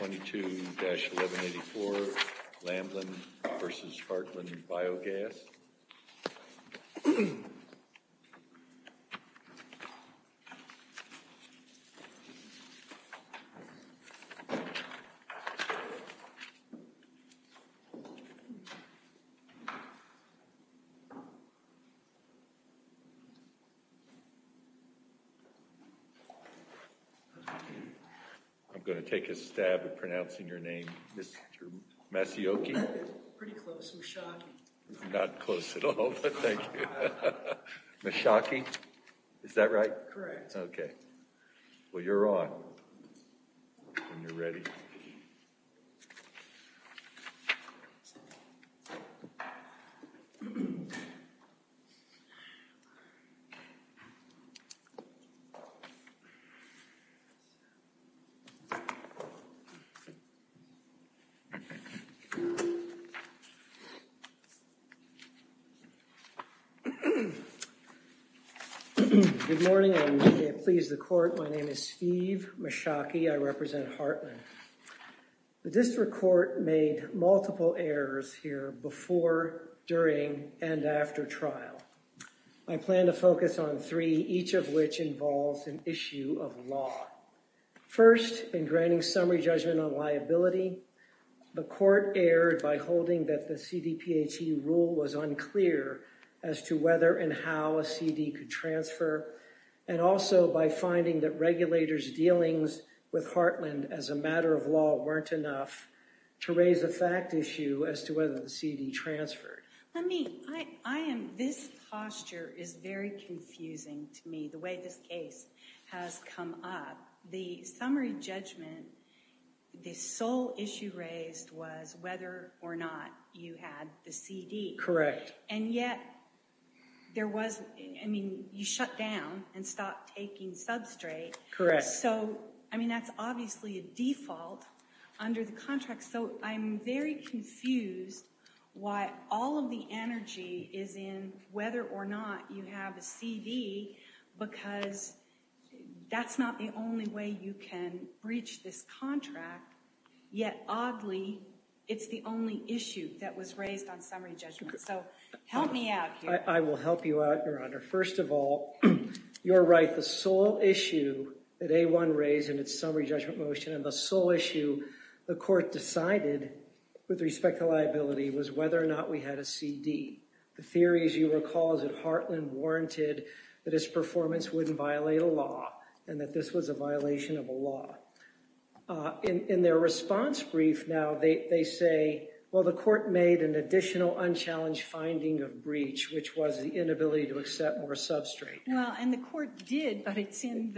22-1184 Lambland v. Heartland Biogas I'm going to take a stab at pronouncing your name. Ms. Masioki? Pretty close. Ms. Shockey. Not close at all, but thank you. Ms. Shockey? Is that right? Correct. Good morning, and may it please the Court, my name is Steve Masioki. I represent Heartland. The District Court made multiple errors here before, during, and after trial. I plan to focus on three, each of which involves an issue of law. First, in granting summary judgment on liability, the Court erred by holding that the CDPHE rule was unclear as to whether and how a CD could transfer, and also by finding that regulators' dealings with Heartland as a matter of law weren't enough to raise a fact issue as to whether the CD transferred. Let me, I am, this posture is very confusing to me, the way this case has come up. The summary judgment, the sole issue raised was whether or not you had the CD. Correct. And yet, there was, I mean, you shut down and stopped taking substrate. Correct. So, I mean, that's obviously a default under the contract, so I'm very confused why all of the energy is in whether or not you have a CD, because that's not the only way you can breach this contract. Yet, oddly, it's the only issue that was raised on summary judgment. So, help me out here. I will help you out, Your Honor. First of all, you're right. The sole issue that A1 raised in its summary judgment motion and the sole issue the Court decided with respect to liability was whether or not we had a CD. The theory, as you recall, is that Heartland warranted that its performance wouldn't violate a law and that this was a violation of a law. In their response brief now, they say, well, the Court made an additional unchallenged finding of breach, which was the inability to accept more substrate. Well, and the Court did, but it's in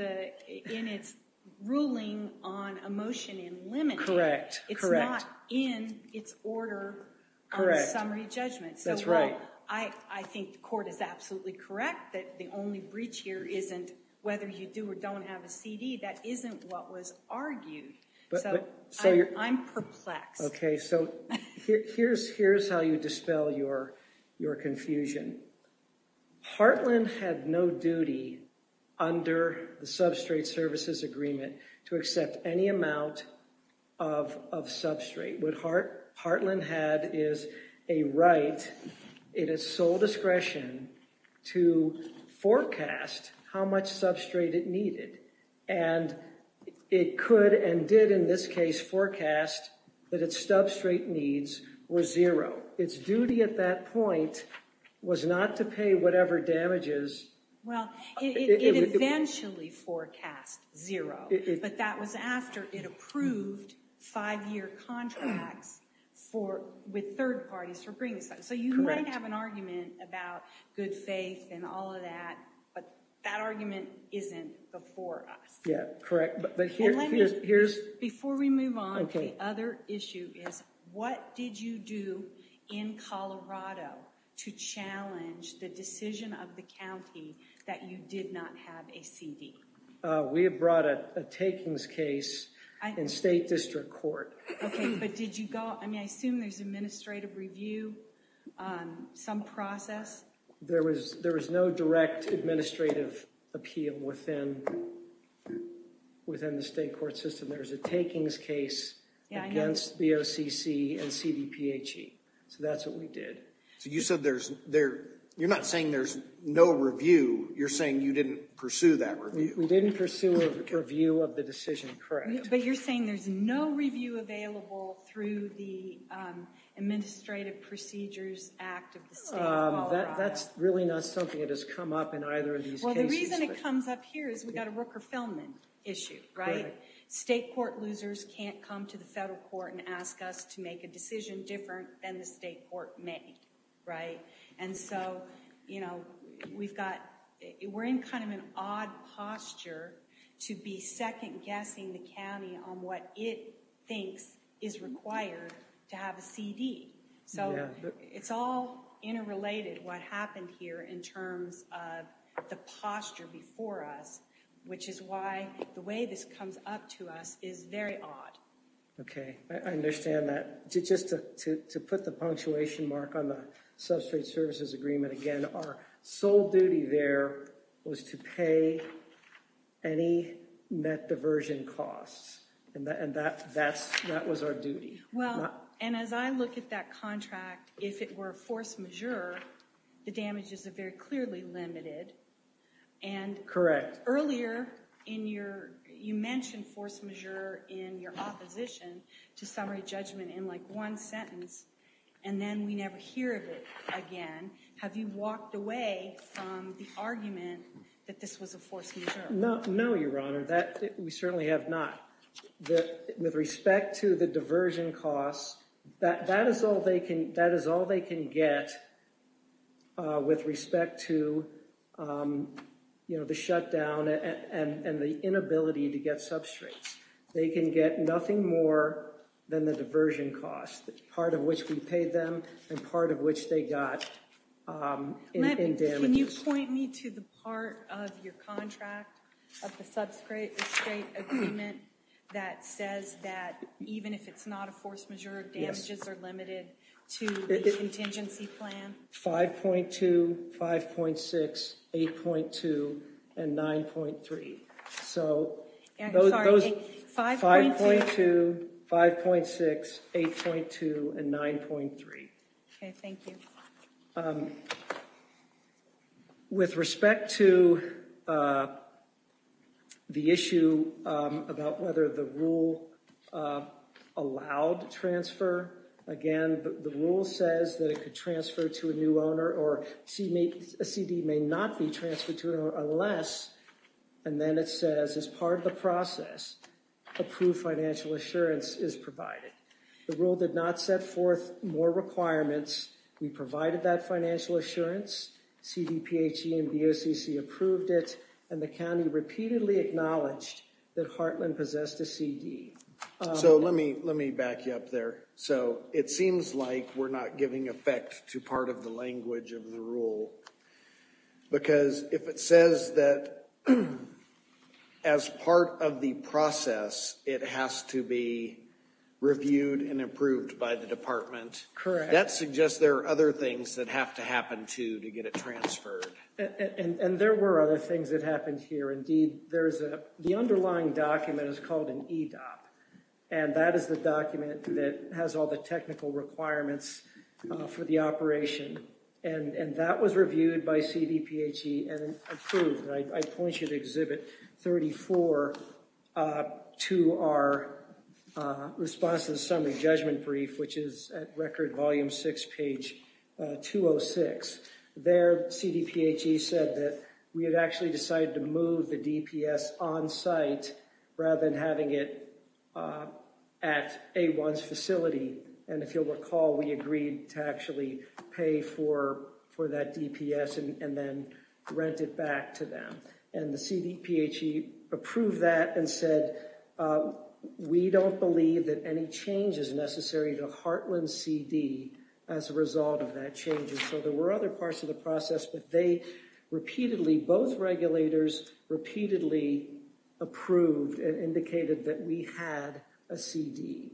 its ruling on a motion in limited. Correct. It's not in its order on summary judgment. That's right. I think the Court is absolutely correct that the only breach here isn't whether you do or don't have a CD. That isn't what was argued. So, I'm perplexed. Okay, so here's how you dispel your confusion. Heartland had no duty under the substrate services agreement to accept any amount of substrate. What Heartland had is a right, in its sole discretion, to forecast how much substrate it needed. And it could and did in this case forecast that its substrate needs were zero. Its duty at that point was not to pay whatever damages. Well, it eventually forecast zero, but that was after it approved five-year contracts with third parties for bringing substrate. So, you might have an argument about good faith and all of that, but that argument isn't before us. Yeah, correct. Before we move on, the other issue is what did you do in Colorado to challenge the decision of the county that you did not have a CD? We have brought a takings case in State District Court. Okay, but did you go, I mean, I assume there's administrative review, some process? There was no direct administrative appeal within the state court system. There was a takings case against BOCC and CDPHE. So, that's what we did. So, you said there's, you're not saying there's no review. You're saying you didn't pursue that review. But you're saying there's no review available through the Administrative Procedures Act of the state of Colorado. That's really not something that has come up in either of these cases. Well, the reason it comes up here is we've got a Rooker-Feldman issue, right? State court losers can't come to the federal court and ask us to make a decision different than the state court may, right? And so, you know, we've got, we're in kind of an odd posture to be second guessing the county on what it thinks is required to have a CD. So, it's all interrelated what happened here in terms of the posture before us, which is why the way this comes up to us is very odd. Okay, I understand that. Just to put the punctuation mark on the substrate services agreement, again, our sole duty there was to pay any net diversion costs. And that was our duty. Well, and as I look at that contract, if it were force majeure, the damages are very clearly limited. Correct. Earlier, you mentioned force majeure in your opposition to summary judgment in like one sentence, and then we never hear of it again. Have you walked away from the argument that this was a force majeure? No, Your Honor. We certainly have not. With respect to the diversion costs, that is all they can get with respect to, you know, the shutdown and the inability to get substrates. They can get nothing more than the diversion costs, part of which we paid them and part of which they got in damages. Can you point me to the part of your contract of the substrate agreement that says that even if it's not a force majeure, damages are limited to the contingency plan? 5.2, 5.6, 8.2, and 9.3. So, 5.2, 5.6, 8.2, and 9.3. Okay, thank you. With respect to the issue about whether the rule allowed transfer, again, the rule says that it could transfer to a new owner or a CD may not be transferred to an owner unless, and then it says, as part of the process, approved financial assurance is provided. The rule did not set forth more requirements. We provided that financial assurance, CDPHE and BOCC approved it, and the county repeatedly acknowledged that Heartland possessed a CD. So, let me back you up there. So, it seems like we're not giving effect to part of the language of the rule, because if it says that, as part of the process, it has to be reviewed and approved by the department. Correct. That suggests there are other things that have to happen, too, to get it transferred. And there were other things that happened here. Indeed, the underlying document is called an E-DOP, and that is the document that has all the technical requirements for the operation, and that was reviewed by CDPHE and approved. I point you to Exhibit 34 to our response to the summary judgment brief, which is at Record Volume 6, page 206. There, CDPHE said that we had actually decided to move the DPS on site rather than having it at A1's facility. And if you'll recall, we agreed to actually pay for that DPS and then rent it back to them. And the CDPHE approved that and said, we don't believe that any change is necessary to Heartland CD as a result of that change. And so there were other parts of the process, but they repeatedly, both regulators, repeatedly approved and indicated that we had a CD.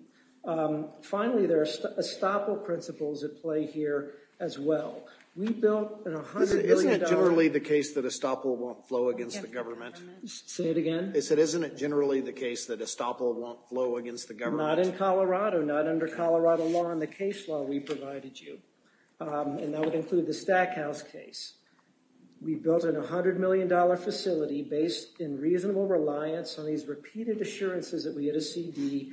Finally, there are estoppel principles at play here as well. We built a $100 billion— Isn't it generally the case that estoppel won't flow against the government? Say it again? They said, isn't it generally the case that estoppel won't flow against the government? Not in Colorado, not under Colorado law and the case law we provided you. And that would include the Stackhouse case. We built a $100 million facility based in reasonable reliance on these repeated assurances that we had a CD,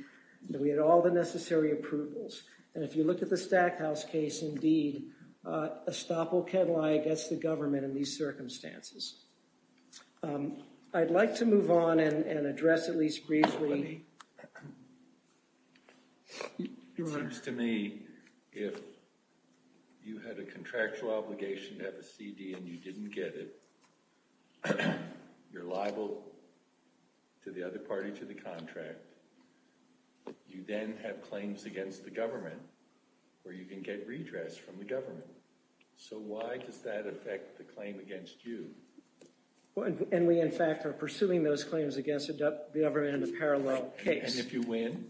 that we had all the necessary approvals. And if you look at the Stackhouse case, indeed, estoppel can lie against the government in these circumstances. I'd like to move on and address at least briefly— Your Honor. It seems to me if you had a contractual obligation to have a CD and you didn't get it, you're liable to the other party to the contract. You then have claims against the government where you can get redress from the government. So why does that affect the claim against you? And we, in fact, are pursuing those claims against the government in a parallel case. And if you win,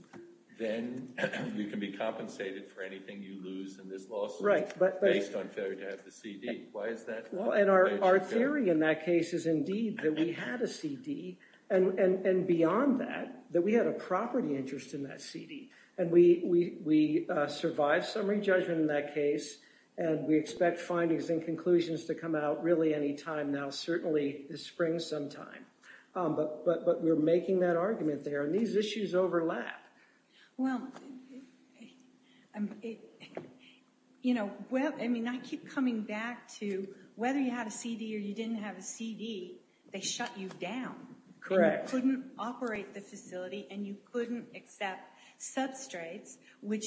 then you can be compensated for anything you lose in this lawsuit based on failure to have the CD. Why is that? And our theory in that case is indeed that we had a CD. And beyond that, that we had a property interest in that CD. And we survived summary judgment in that case. And we expect findings and conclusions to come out really any time now, certainly this spring sometime. But we're making that argument there. And these issues overlap. Well, you know, I mean, I keep coming back to whether you had a CD or you didn't have a CD, they shut you down. Correct. You couldn't operate the facility and you couldn't accept substrates, which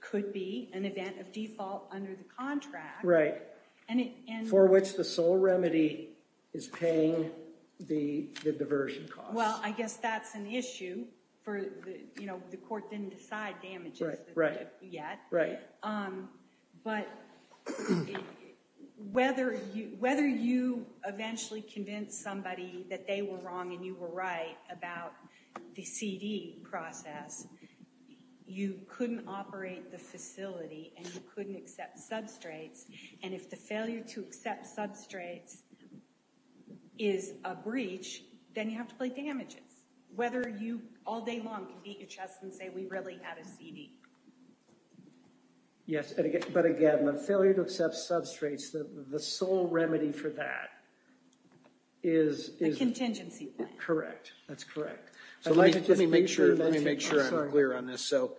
could be an event of default under the contract. Right. For which the sole remedy is paying the diversion cost. Well, I guess that's an issue for, you know, the court didn't decide damages yet. Right. But whether you eventually convince somebody that they were wrong and you were right about the CD process, you couldn't operate the facility and you couldn't accept substrates. And if the failure to accept substrates is a breach, then you have to pay damages. Whether you all day long can beat your chest and say, we really had a CD. Yes. But again, the failure to accept substrates, the sole remedy for that is... A contingency plan. Correct. That's correct. Let me make sure I'm clear on this. So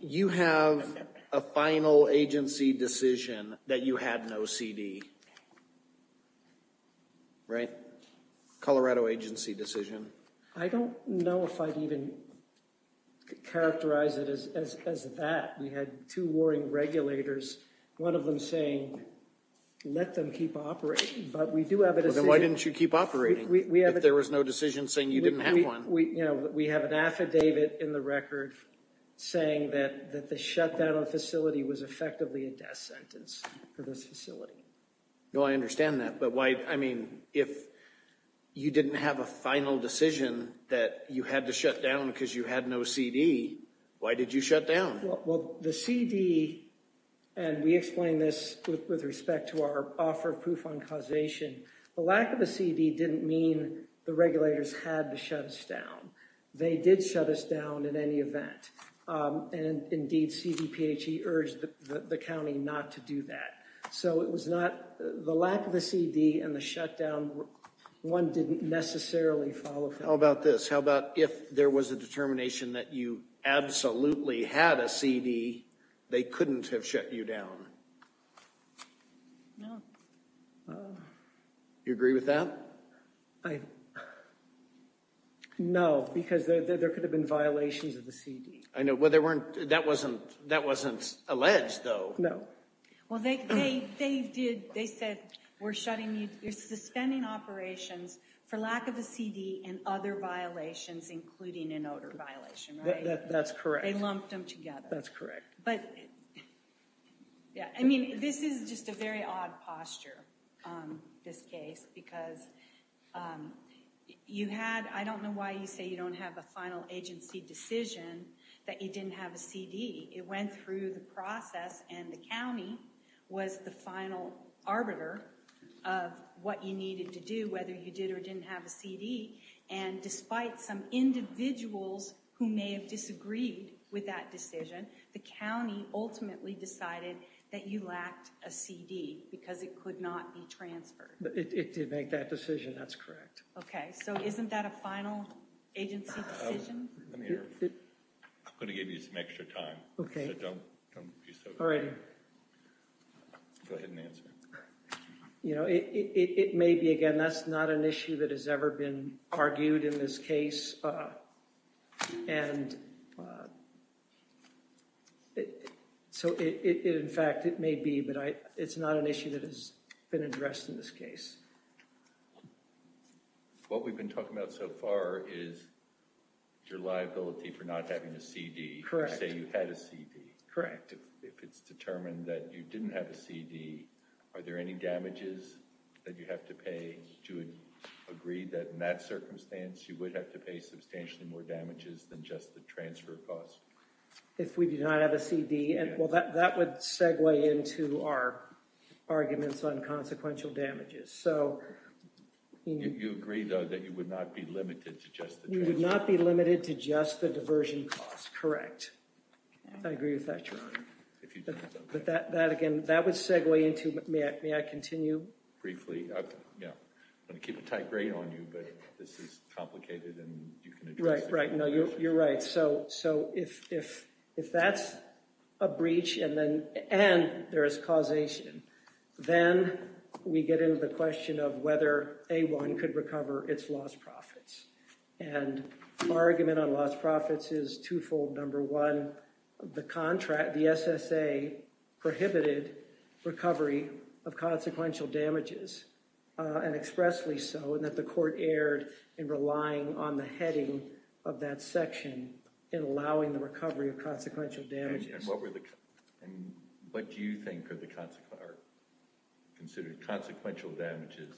you have a final agency decision that you had no CD. Right. Colorado agency decision. I don't know if I'd even characterize it as that. We had two warring regulators, one of them saying, let them keep operating. But we do have a decision... Then why didn't you keep operating if there was no decision saying you didn't have one? We have an affidavit in the record saying that the shutdown of the facility was effectively a death sentence for this facility. No, I understand that. But why, I mean, if you didn't have a final decision that you had to shut down because you had no CD, why did you shut down? Well, the CD, and we explained this with respect to our offer of proof on causation. The lack of a CD didn't mean the regulators had to shut us down. They did shut us down in any event. And indeed, CDPHE urged the county not to do that. So it was not, the lack of a CD and the shutdown, one didn't necessarily follow through. How about this? How about if there was a determination that you absolutely had a CD, they couldn't have shut you down? No. You agree with that? I... No, because there could have been violations of the CD. I know, well, there weren't, that wasn't, that wasn't alleged, though. No. Well, they did, they said, we're shutting you, you're suspending operations for lack of a CD and other violations, including an odor violation, right? That's correct. They lumped them together. That's correct. But, yeah, I mean, this is just a very odd posture, this case, because you had, I don't know why you say you don't have a final agency decision that you didn't have a CD. It went through the process and the county was the final arbiter of what you needed to do, whether you did or didn't have a CD. And despite some individuals who may have disagreed with that decision, the county ultimately decided that you lacked a CD because it could not be transferred. It did make that decision, that's correct. Okay, so isn't that a final agency decision? I'm going to give you some extra time. Okay. So don't be so quick. All right. Go ahead and answer. You know, it may be, again, that's not an issue that has ever been argued in this case. And so it, in fact, it may be, but it's not an issue that has been addressed in this case. What we've been talking about so far is your liability for not having a CD. Correct. You say you had a CD. Correct. If it's determined that you didn't have a CD, are there any damages that you have to pay to agree that in that circumstance you would have to pay substantially more damages than just the transfer cost? If we did not have a CD? Well, that would segue into our arguments on consequential damages. You agree, though, that you would not be limited to just the transfer? You would not be limited to just the diversion cost, correct. I agree with that, Your Honor. But that, again, that would segue into, may I continue? Briefly, yeah. I'm going to keep a tight grain on you, but this is complicated and you can address it. Right, right. You're right. So if that's a breach and there is causation, then we get into the question of whether A1 could recover its lost profits. And our argument on lost profits is twofold. Number one, the contract, the SSA, prohibited recovery of consequential damages, and expressly so, and that the court erred in relying on the heading of that section in allowing the recovery of consequential damages. And what do you think are considered consequential damages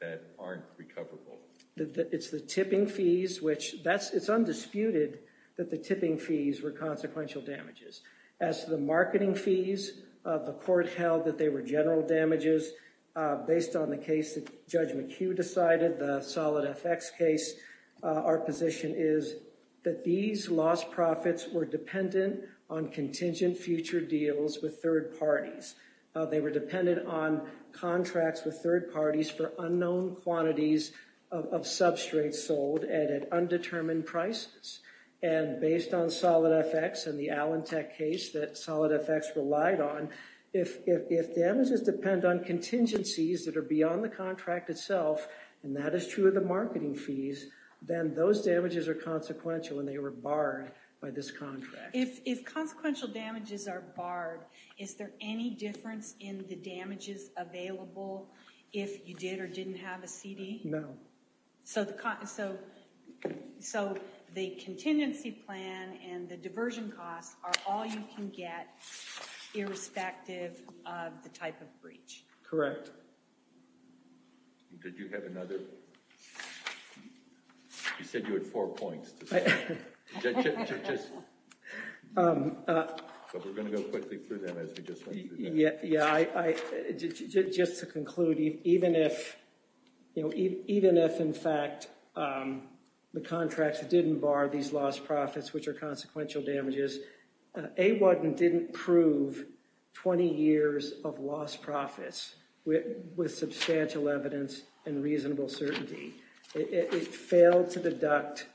that aren't recoverable? It's the tipping fees, which it's undisputed that the tipping fees were consequential damages. As to the marketing fees, the court held that they were general damages. Based on the case that Judge McHugh decided, the Solid FX case, our position is that these lost profits were dependent on contingent future deals with third parties. They were dependent on contracts with third parties for unknown quantities of substrates sold at undetermined prices. And based on Solid FX and the Allentech case that Solid FX relied on, if damages depend on contingencies that are beyond the contract itself, and that is true of the marketing fees, then those damages are consequential and they were barred by this contract. If consequential damages are barred, is there any difference in the damages available if you did or didn't have a CD? No. So the contingency plan and the diversion costs are all you can get, irrespective of the type of breach? Correct. Did you have another? You said you had four points to say. But we're going to go quickly through them as we just went through them. Just to conclude, even if in fact the contracts didn't bar these lost profits, which are consequential damages, AWADN didn't prove 20 years of lost profits with substantial evidence and reasonable certainty. It failed to deduct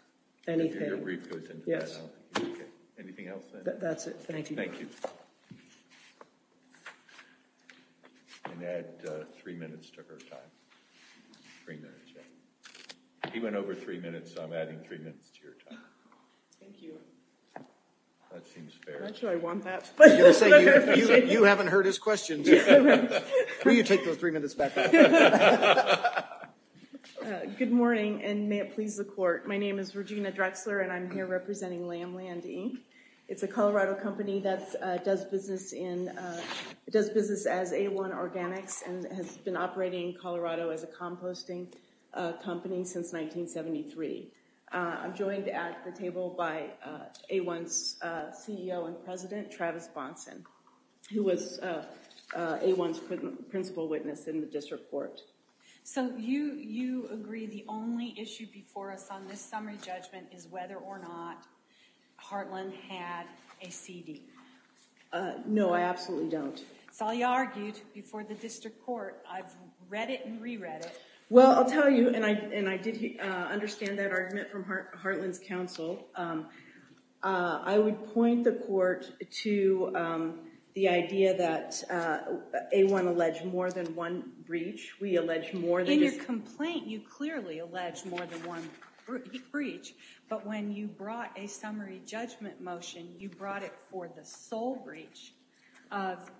anything. Anything else? That's it. Thank you. Thank you. And add three minutes to her time. Three minutes. He went over three minutes, so I'm adding three minutes to your time. Thank you. That seems fair. I'm not sure I want that. You haven't heard his questions. Will you take those three minutes back? Good morning, and may it please the court. My name is Regina Drexler, and I'm here representing Lamb Landy. It's a Colorado company that does business as A1 Organics and has been operating in Colorado as a composting company since 1973. I'm joined at the table by A1's CEO and president, Travis Bonson, who was A1's principal witness in the district court. So you agree the only issue before us on this summary judgment is whether or not Hartland had a CD? No, I absolutely don't. That's all you argued before the district court. I've read it and reread it. Well, I'll tell you, and I did understand that argument from Hartland's counsel. I would point the court to the idea that A1 alleged more than one breach. In your complaint, you clearly alleged more than one breach. But when you brought a summary judgment motion, you brought it for the sole breach of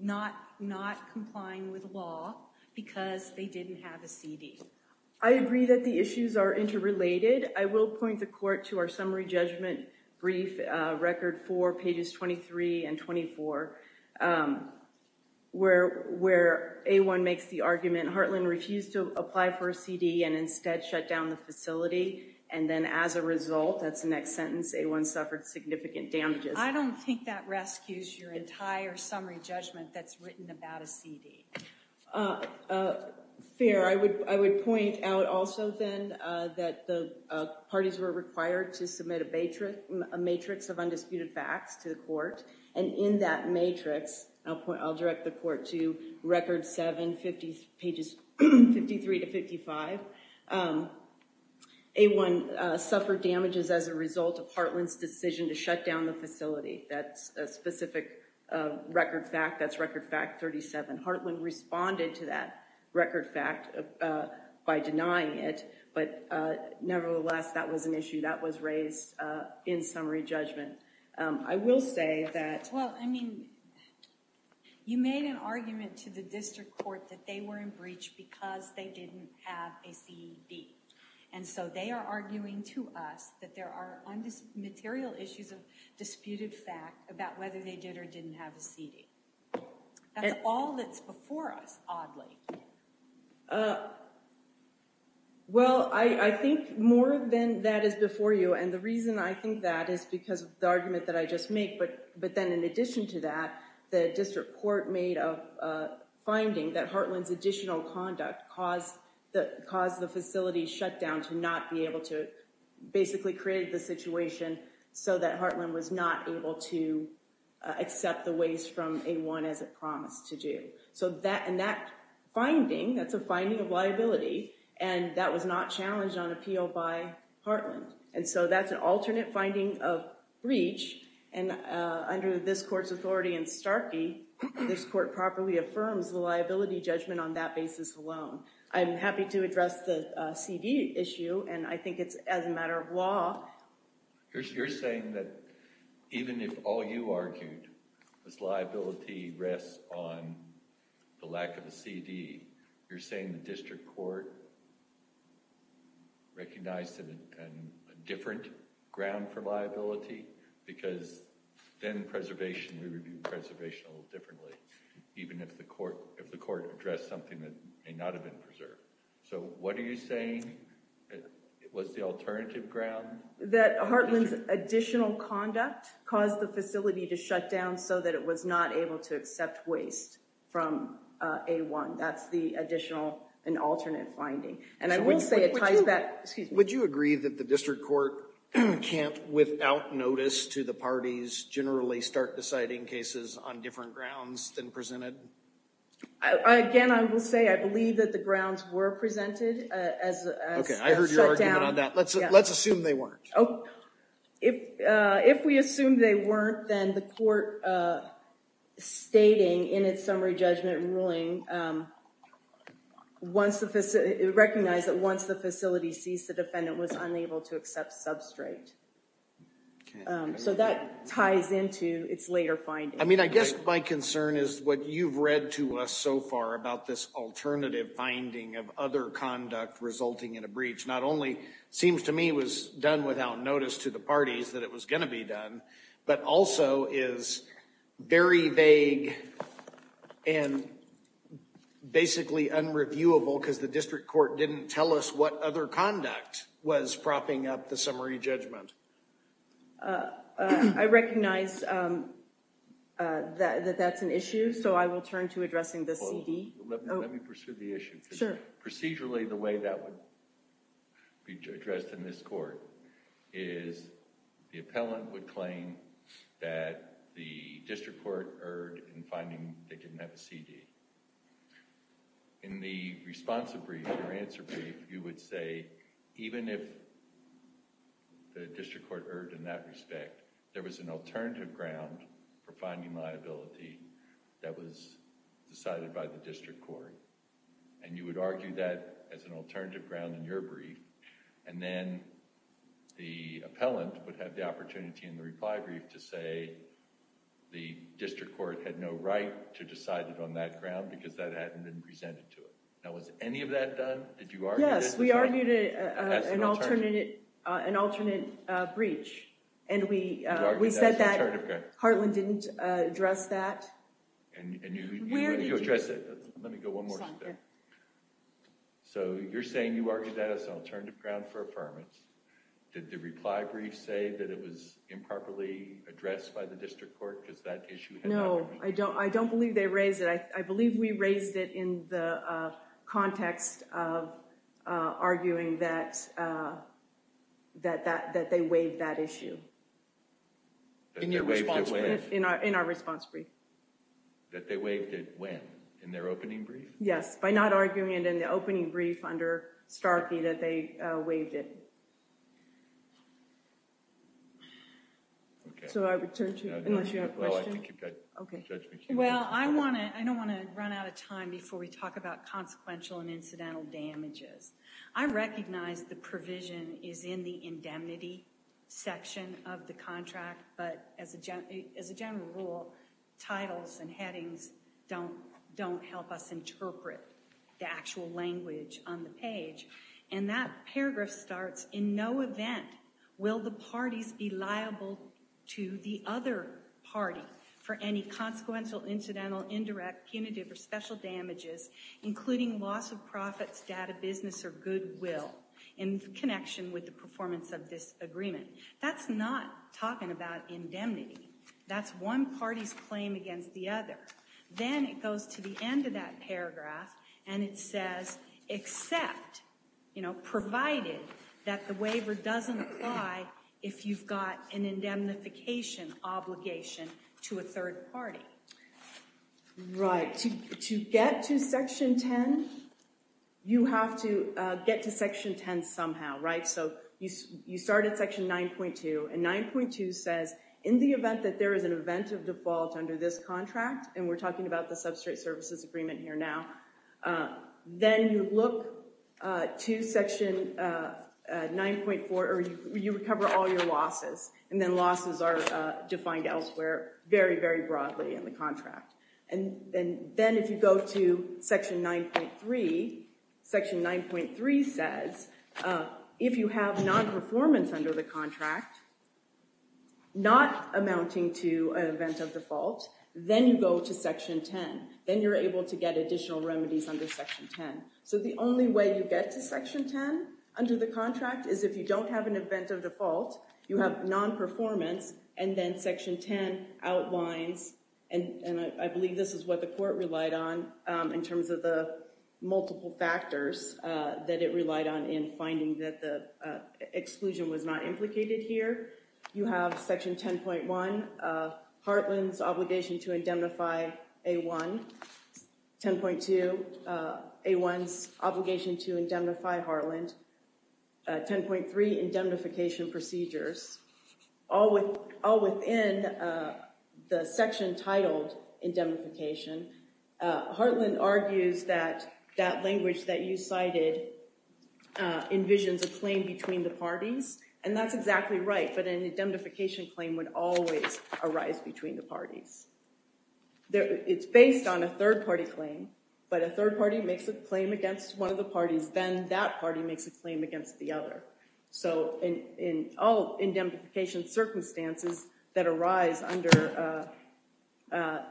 not complying with law because they didn't have a CD. I agree that the issues are interrelated. I will point the court to our summary judgment brief, record four, pages 23 and 24, where A1 makes the argument Hartland refused to apply for a CD and instead shut down the facility. And then as a result, that's the next sentence, A1 suffered significant damages. I don't think that rescues your entire summary judgment that's written about a CD. Fair. I would point out also then that the parties were required to submit a matrix of undisputed facts to the court. And in that matrix, I'll direct the court to record seven, pages 53 to 55, A1 suffered damages as a result of Hartland's decision to shut down the facility. That's a specific record fact. That's record fact 37. Hartland responded to that record fact by denying it. But nevertheless, that was an issue that was raised in summary judgment. I will say that. Well, I mean, you made an argument to the district court that they were in breach because they didn't have a CD. And so they are arguing to us that there are material issues of disputed fact about whether they did or didn't have a CD. That's all that's before us, oddly. Well, I think more than that is before you. And the reason I think that is because of the argument that I just made. But then in addition to that, the district court made a finding that Hartland's additional conduct caused the facility shutdown to not be able to basically create the situation so that Hartland was not able to accept the waste from A1 as it promised to do. So that finding, that's a finding of liability, and that was not challenged on appeal by Hartland. And so that's an alternate finding of breach. And under this court's authority in Starkey, this court properly affirms the liability judgment on that basis alone. I'm happy to address the CD issue, and I think it's as a matter of law. You're saying that even if all you argued was liability rests on the lack of a CD, you're saying the district court recognized a different ground for liability? Because then preservation, we would do preservation a little differently, even if the court addressed something that may not have been preserved. So what are you saying? It was the alternative ground? That Hartland's additional conduct caused the facility to shut down so that it was not able to accept waste from A1. That's the additional and alternate finding. And I will say it ties back— Would you agree that the district court can't, without notice to the parties, generally start deciding cases on different grounds than presented? Again, I will say I believe that the grounds were presented as shut down. Okay, I heard your argument on that. Let's assume they weren't. If we assume they weren't, then the court stating in its summary judgment ruling recognized that once the facility ceased, the defendant was unable to accept substrate. So that ties into its later finding. I mean, I guess my concern is what you've read to us so far about this alternative finding of other conduct resulting in a breach not only seems to me was done without notice to the parties that it was going to be done, but also is very vague and basically unreviewable because the district court didn't tell us what other conduct was propping up the summary judgment. I recognize that that's an issue, so I will turn to addressing the CD. Let me pursue the issue. Sure. Procedurally, the way that would be addressed in this court is the appellant would claim that the district court erred in finding they didn't have a CD. In the response or answer brief, you would say even if the district court erred in that respect, there was an alternative ground for finding liability that was decided by the district court. And you would argue that as an alternative ground in your brief. And then the appellant would have the opportunity in the reply brief to say the district court had no right to decide it on that ground because that hadn't been presented to it. Now, was any of that done? Yes, we argued an alternate breach. And we said that Hartland didn't address that. Where did you address it? Let me go one more step. So you're saying you argued that as an alternative ground for affirmance. Did the reply brief say that it was improperly addressed by the district court because that issue had not been raised? No, I don't believe they raised it. I believe we raised it in the context of arguing that they waived that issue in our response brief. That they waived it when? In their opening brief? Yes, by not arguing it in the opening brief under Starkey that they waived it. So I return to you unless you have a question. Well, I think you've got judgment. Well, I don't want to run out of time before we talk about consequential and incidental damages. I recognize the provision is in the indemnity section of the contract, but as a general rule, titles and headings don't help us interpret the actual language on the page. And that paragraph starts, in no event will the parties be liable to the other party for any consequential, incidental, indirect, punitive, or special damages, including loss of profits, debt of business, or goodwill, in connection with the performance of this agreement. That's not talking about indemnity. That's one party's claim against the other. Then it goes to the end of that paragraph, and it says, except, provided that the waiver doesn't apply if you've got an indemnification obligation to a third party. Right. To get to section 10, you have to get to section 10 somehow, right? So you start at section 9.2, and 9.2 says, in the event that there is an event of default under this contract, and we're talking about the substrate services agreement here now, then you look to section 9.4, or you recover all your losses. And then losses are defined elsewhere very, very broadly in the contract. And then if you go to section 9.3, section 9.3 says, if you have non-performance under the contract, not amounting to an event of default, then you go to section 10. Then you're able to get additional remedies under section 10. So the only way you get to section 10 under the contract is if you don't have an event of default, you have non-performance, and then section 10 outlines, and I believe this is what the court relied on in terms of the multiple factors that it relied on in finding that the exclusion was not implicated here. You have section 10.1, Hartland's obligation to indemnify A1. 10.2, A1's obligation to indemnify Hartland. 10.3, indemnification procedures. All within the section titled indemnification, Hartland argues that that language that you cited envisions a claim between the parties. And that's exactly right, but an indemnification claim would always arise between the parties. It's based on a third party claim, but a third party makes a claim against one of the parties, then that party makes a claim against the other. So in all indemnification circumstances that arise under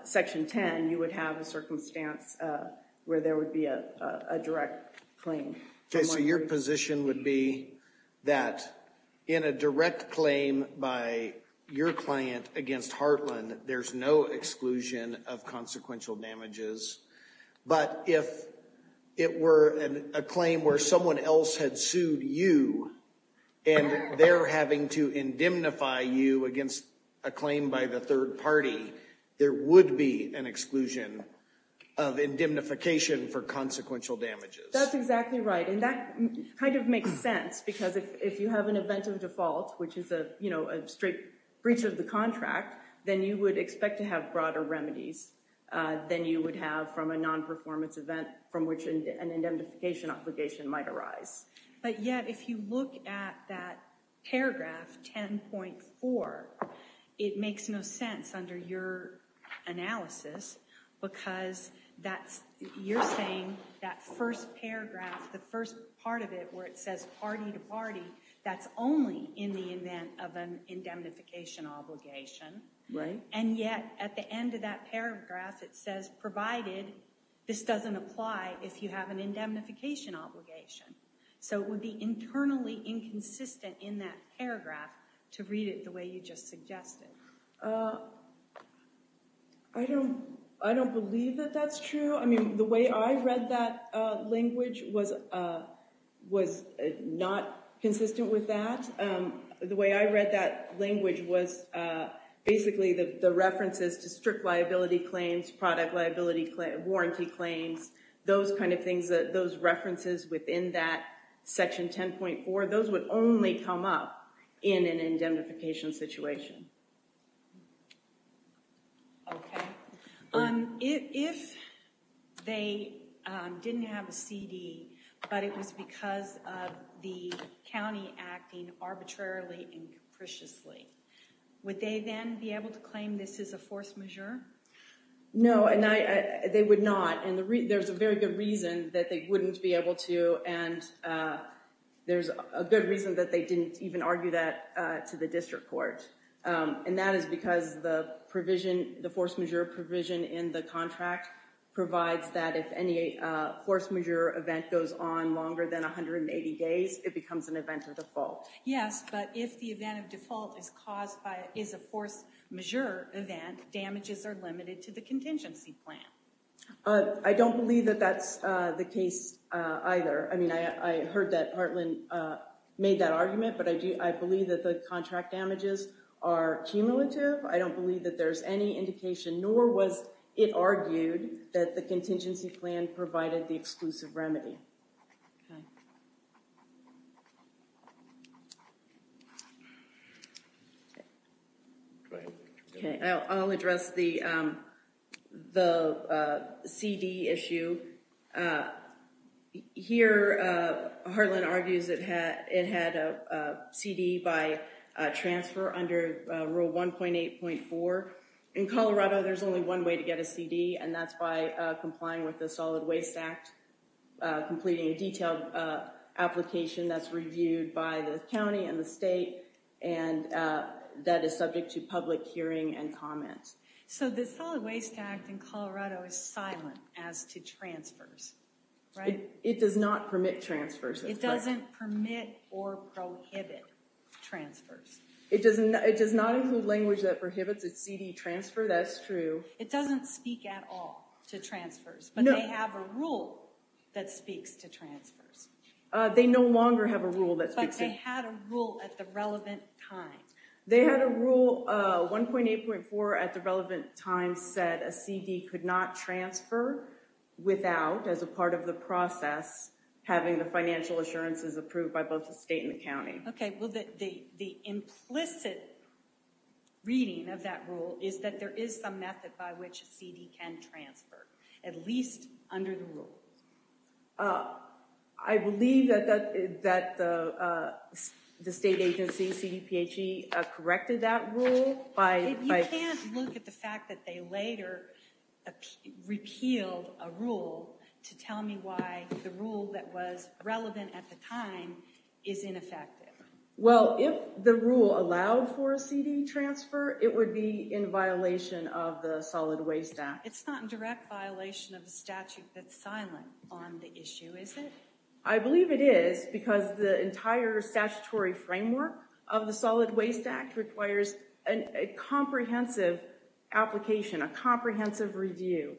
section 10, you would have a circumstance where there would be a direct claim. So your position would be that in a direct claim by your client against Hartland, there's no exclusion of consequential damages. But if it were a claim where someone else had sued you, and they're having to indemnify you against a claim by the third party, there would be an exclusion of indemnification for consequential damages. That's exactly right. And that kind of makes sense, because if you have an event of default, which is a straight breach of the contract, then you would expect to have broader remedies than you would have from a non-performance event from which an indemnification obligation might arise. But yet, if you look at that paragraph 10.4, it makes no sense under your analysis, because you're saying that first paragraph, the first part of it where it says party to party, that's only in the event of an indemnification obligation. Right. And yet, at the end of that paragraph, it says, provided this doesn't apply if you have an indemnification obligation. So it would be internally inconsistent in that paragraph to read it the way you just suggested. I don't believe that that's true. I mean, the way I read that language was not consistent with that. The way I read that language was basically the references to strict liability claims, product liability, warranty claims, those kind of things, those references within that section 10.4, those would only come up in an indemnification situation. OK. If they didn't have a CD, but it was because of the county acting arbitrarily and capriciously, would they then be able to claim this is a force majeure? No, they would not. And there's a very good reason that they wouldn't be able to. And there's a good reason that they didn't even argue that to the district court. And that is because the provision, the force majeure provision in the contract provides that if any force majeure event goes on longer than 180 days, it becomes an event of default. Yes, but if the event of default is caused by, is a force majeure event, damages are limited to the contingency plan. I don't believe that that's the case either. I mean, I heard that Heartland made that argument, but I believe that the contract damages are cumulative. I don't believe that there's any indication, nor was it argued that the contingency plan provided the exclusive remedy. I'll address the CD issue. Here, Heartland argues it had a CD by transfer under rule 1.8.4. In Colorado, there's only one way to get a CD, and that's by complying with the Solid Waste Act, completing a detailed application that's reviewed by the county and the state, and that is subject to public hearing and comment. So the Solid Waste Act in Colorado is silent as to transfers, right? It does not permit transfers. It doesn't permit or prohibit transfers. It does not include language that prohibits a CD transfer, that's true. It doesn't speak at all to transfers, but they have a rule that speaks to transfers. They no longer have a rule that speaks to... But they had a rule at the relevant time. They had a rule 1.8.4 at the relevant time said a CD could not transfer without, as a part of the process, having the financial assurances approved by both the state and the county. Okay, well, the implicit reading of that rule is that there is some method by which a CD can transfer, at least under the rule. I believe that the state agency, CDPHE, corrected that rule by... You can't look at the fact that they later repealed a rule to tell me why the rule that was relevant at the time is ineffective. Well, if the rule allowed for a CD transfer, it would be in violation of the Solid Waste Act. It's not in direct violation of the statute that's silent on the issue, is it? I believe it is, because the entire statutory framework of the Solid Waste Act requires a comprehensive application, a comprehensive review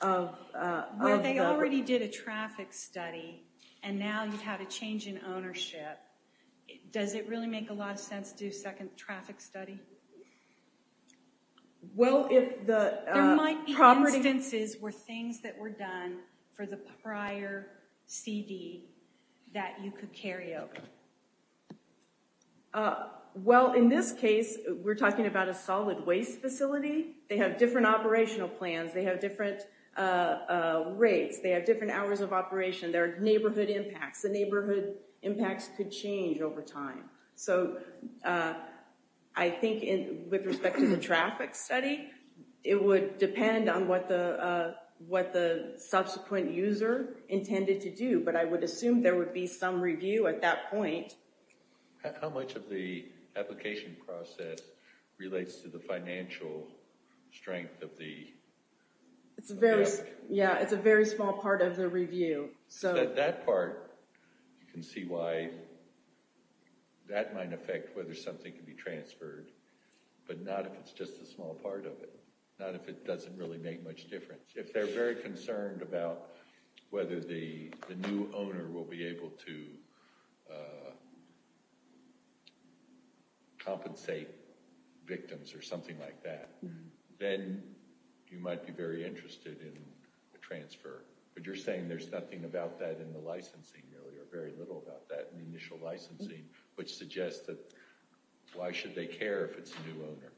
of... Well, they already did a traffic study, and now you have a change in ownership. Does it really make a lot of sense to do a second traffic study? Well, if the... There might be instances where things that were done for the prior CD that you could carry over. Well, in this case, we're talking about a solid waste facility. They have different operational plans. They have different rates. They have different hours of operation. There are neighborhood impacts. The neighborhood impacts could change over time. So I think with respect to the traffic study, it would depend on what the subsequent user intended to do, but I would assume there would be some review at that point. How much of the application process relates to the financial strength of the... It's a very... Yeah, it's a very small part of the review. So at that part, you can see why that might affect whether something could be transferred, but not if it's just a small part of it, not if it doesn't really make much difference. If they're very concerned about whether the new owner will be able to compensate victims or something like that, then you might be very interested in a transfer. But you're saying there's nothing about that in the licensing, really, or very little about that in the initial licensing, which suggests that why should they care if it's a new owner?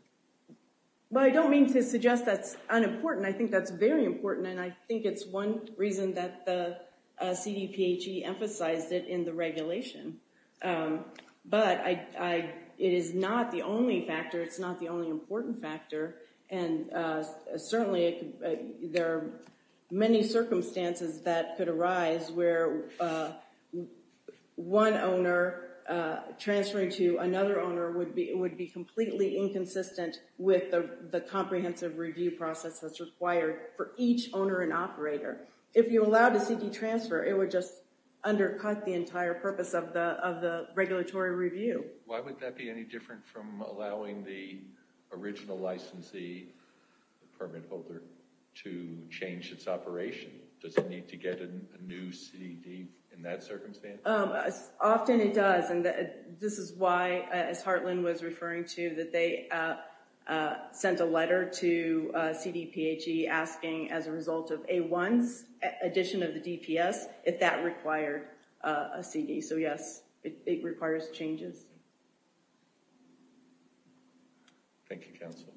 Well, I don't mean to suggest that's unimportant. I think that's very important, and I think it's one reason that the CDPHE emphasized it in the regulation. But it is not the only factor. It's not the only important factor, and certainly there are many circumstances that could arise where one owner transferring to another owner would be completely inconsistent with the comprehensive review process that's required for each owner and operator. If you allowed a CD transfer, it would just undercut the entire purpose of the regulatory review. Why would that be any different from allowing the original licensee, the permit holder, to change its operation? Does it need to get a new CD in that circumstance? Often it does, and this is why, as Heartland was referring to, that they sent a letter to CDPHE asking, as a result of A-1's addition of the DPS, if that required a CD. So, yes, it requires changes. Thank you, counsel.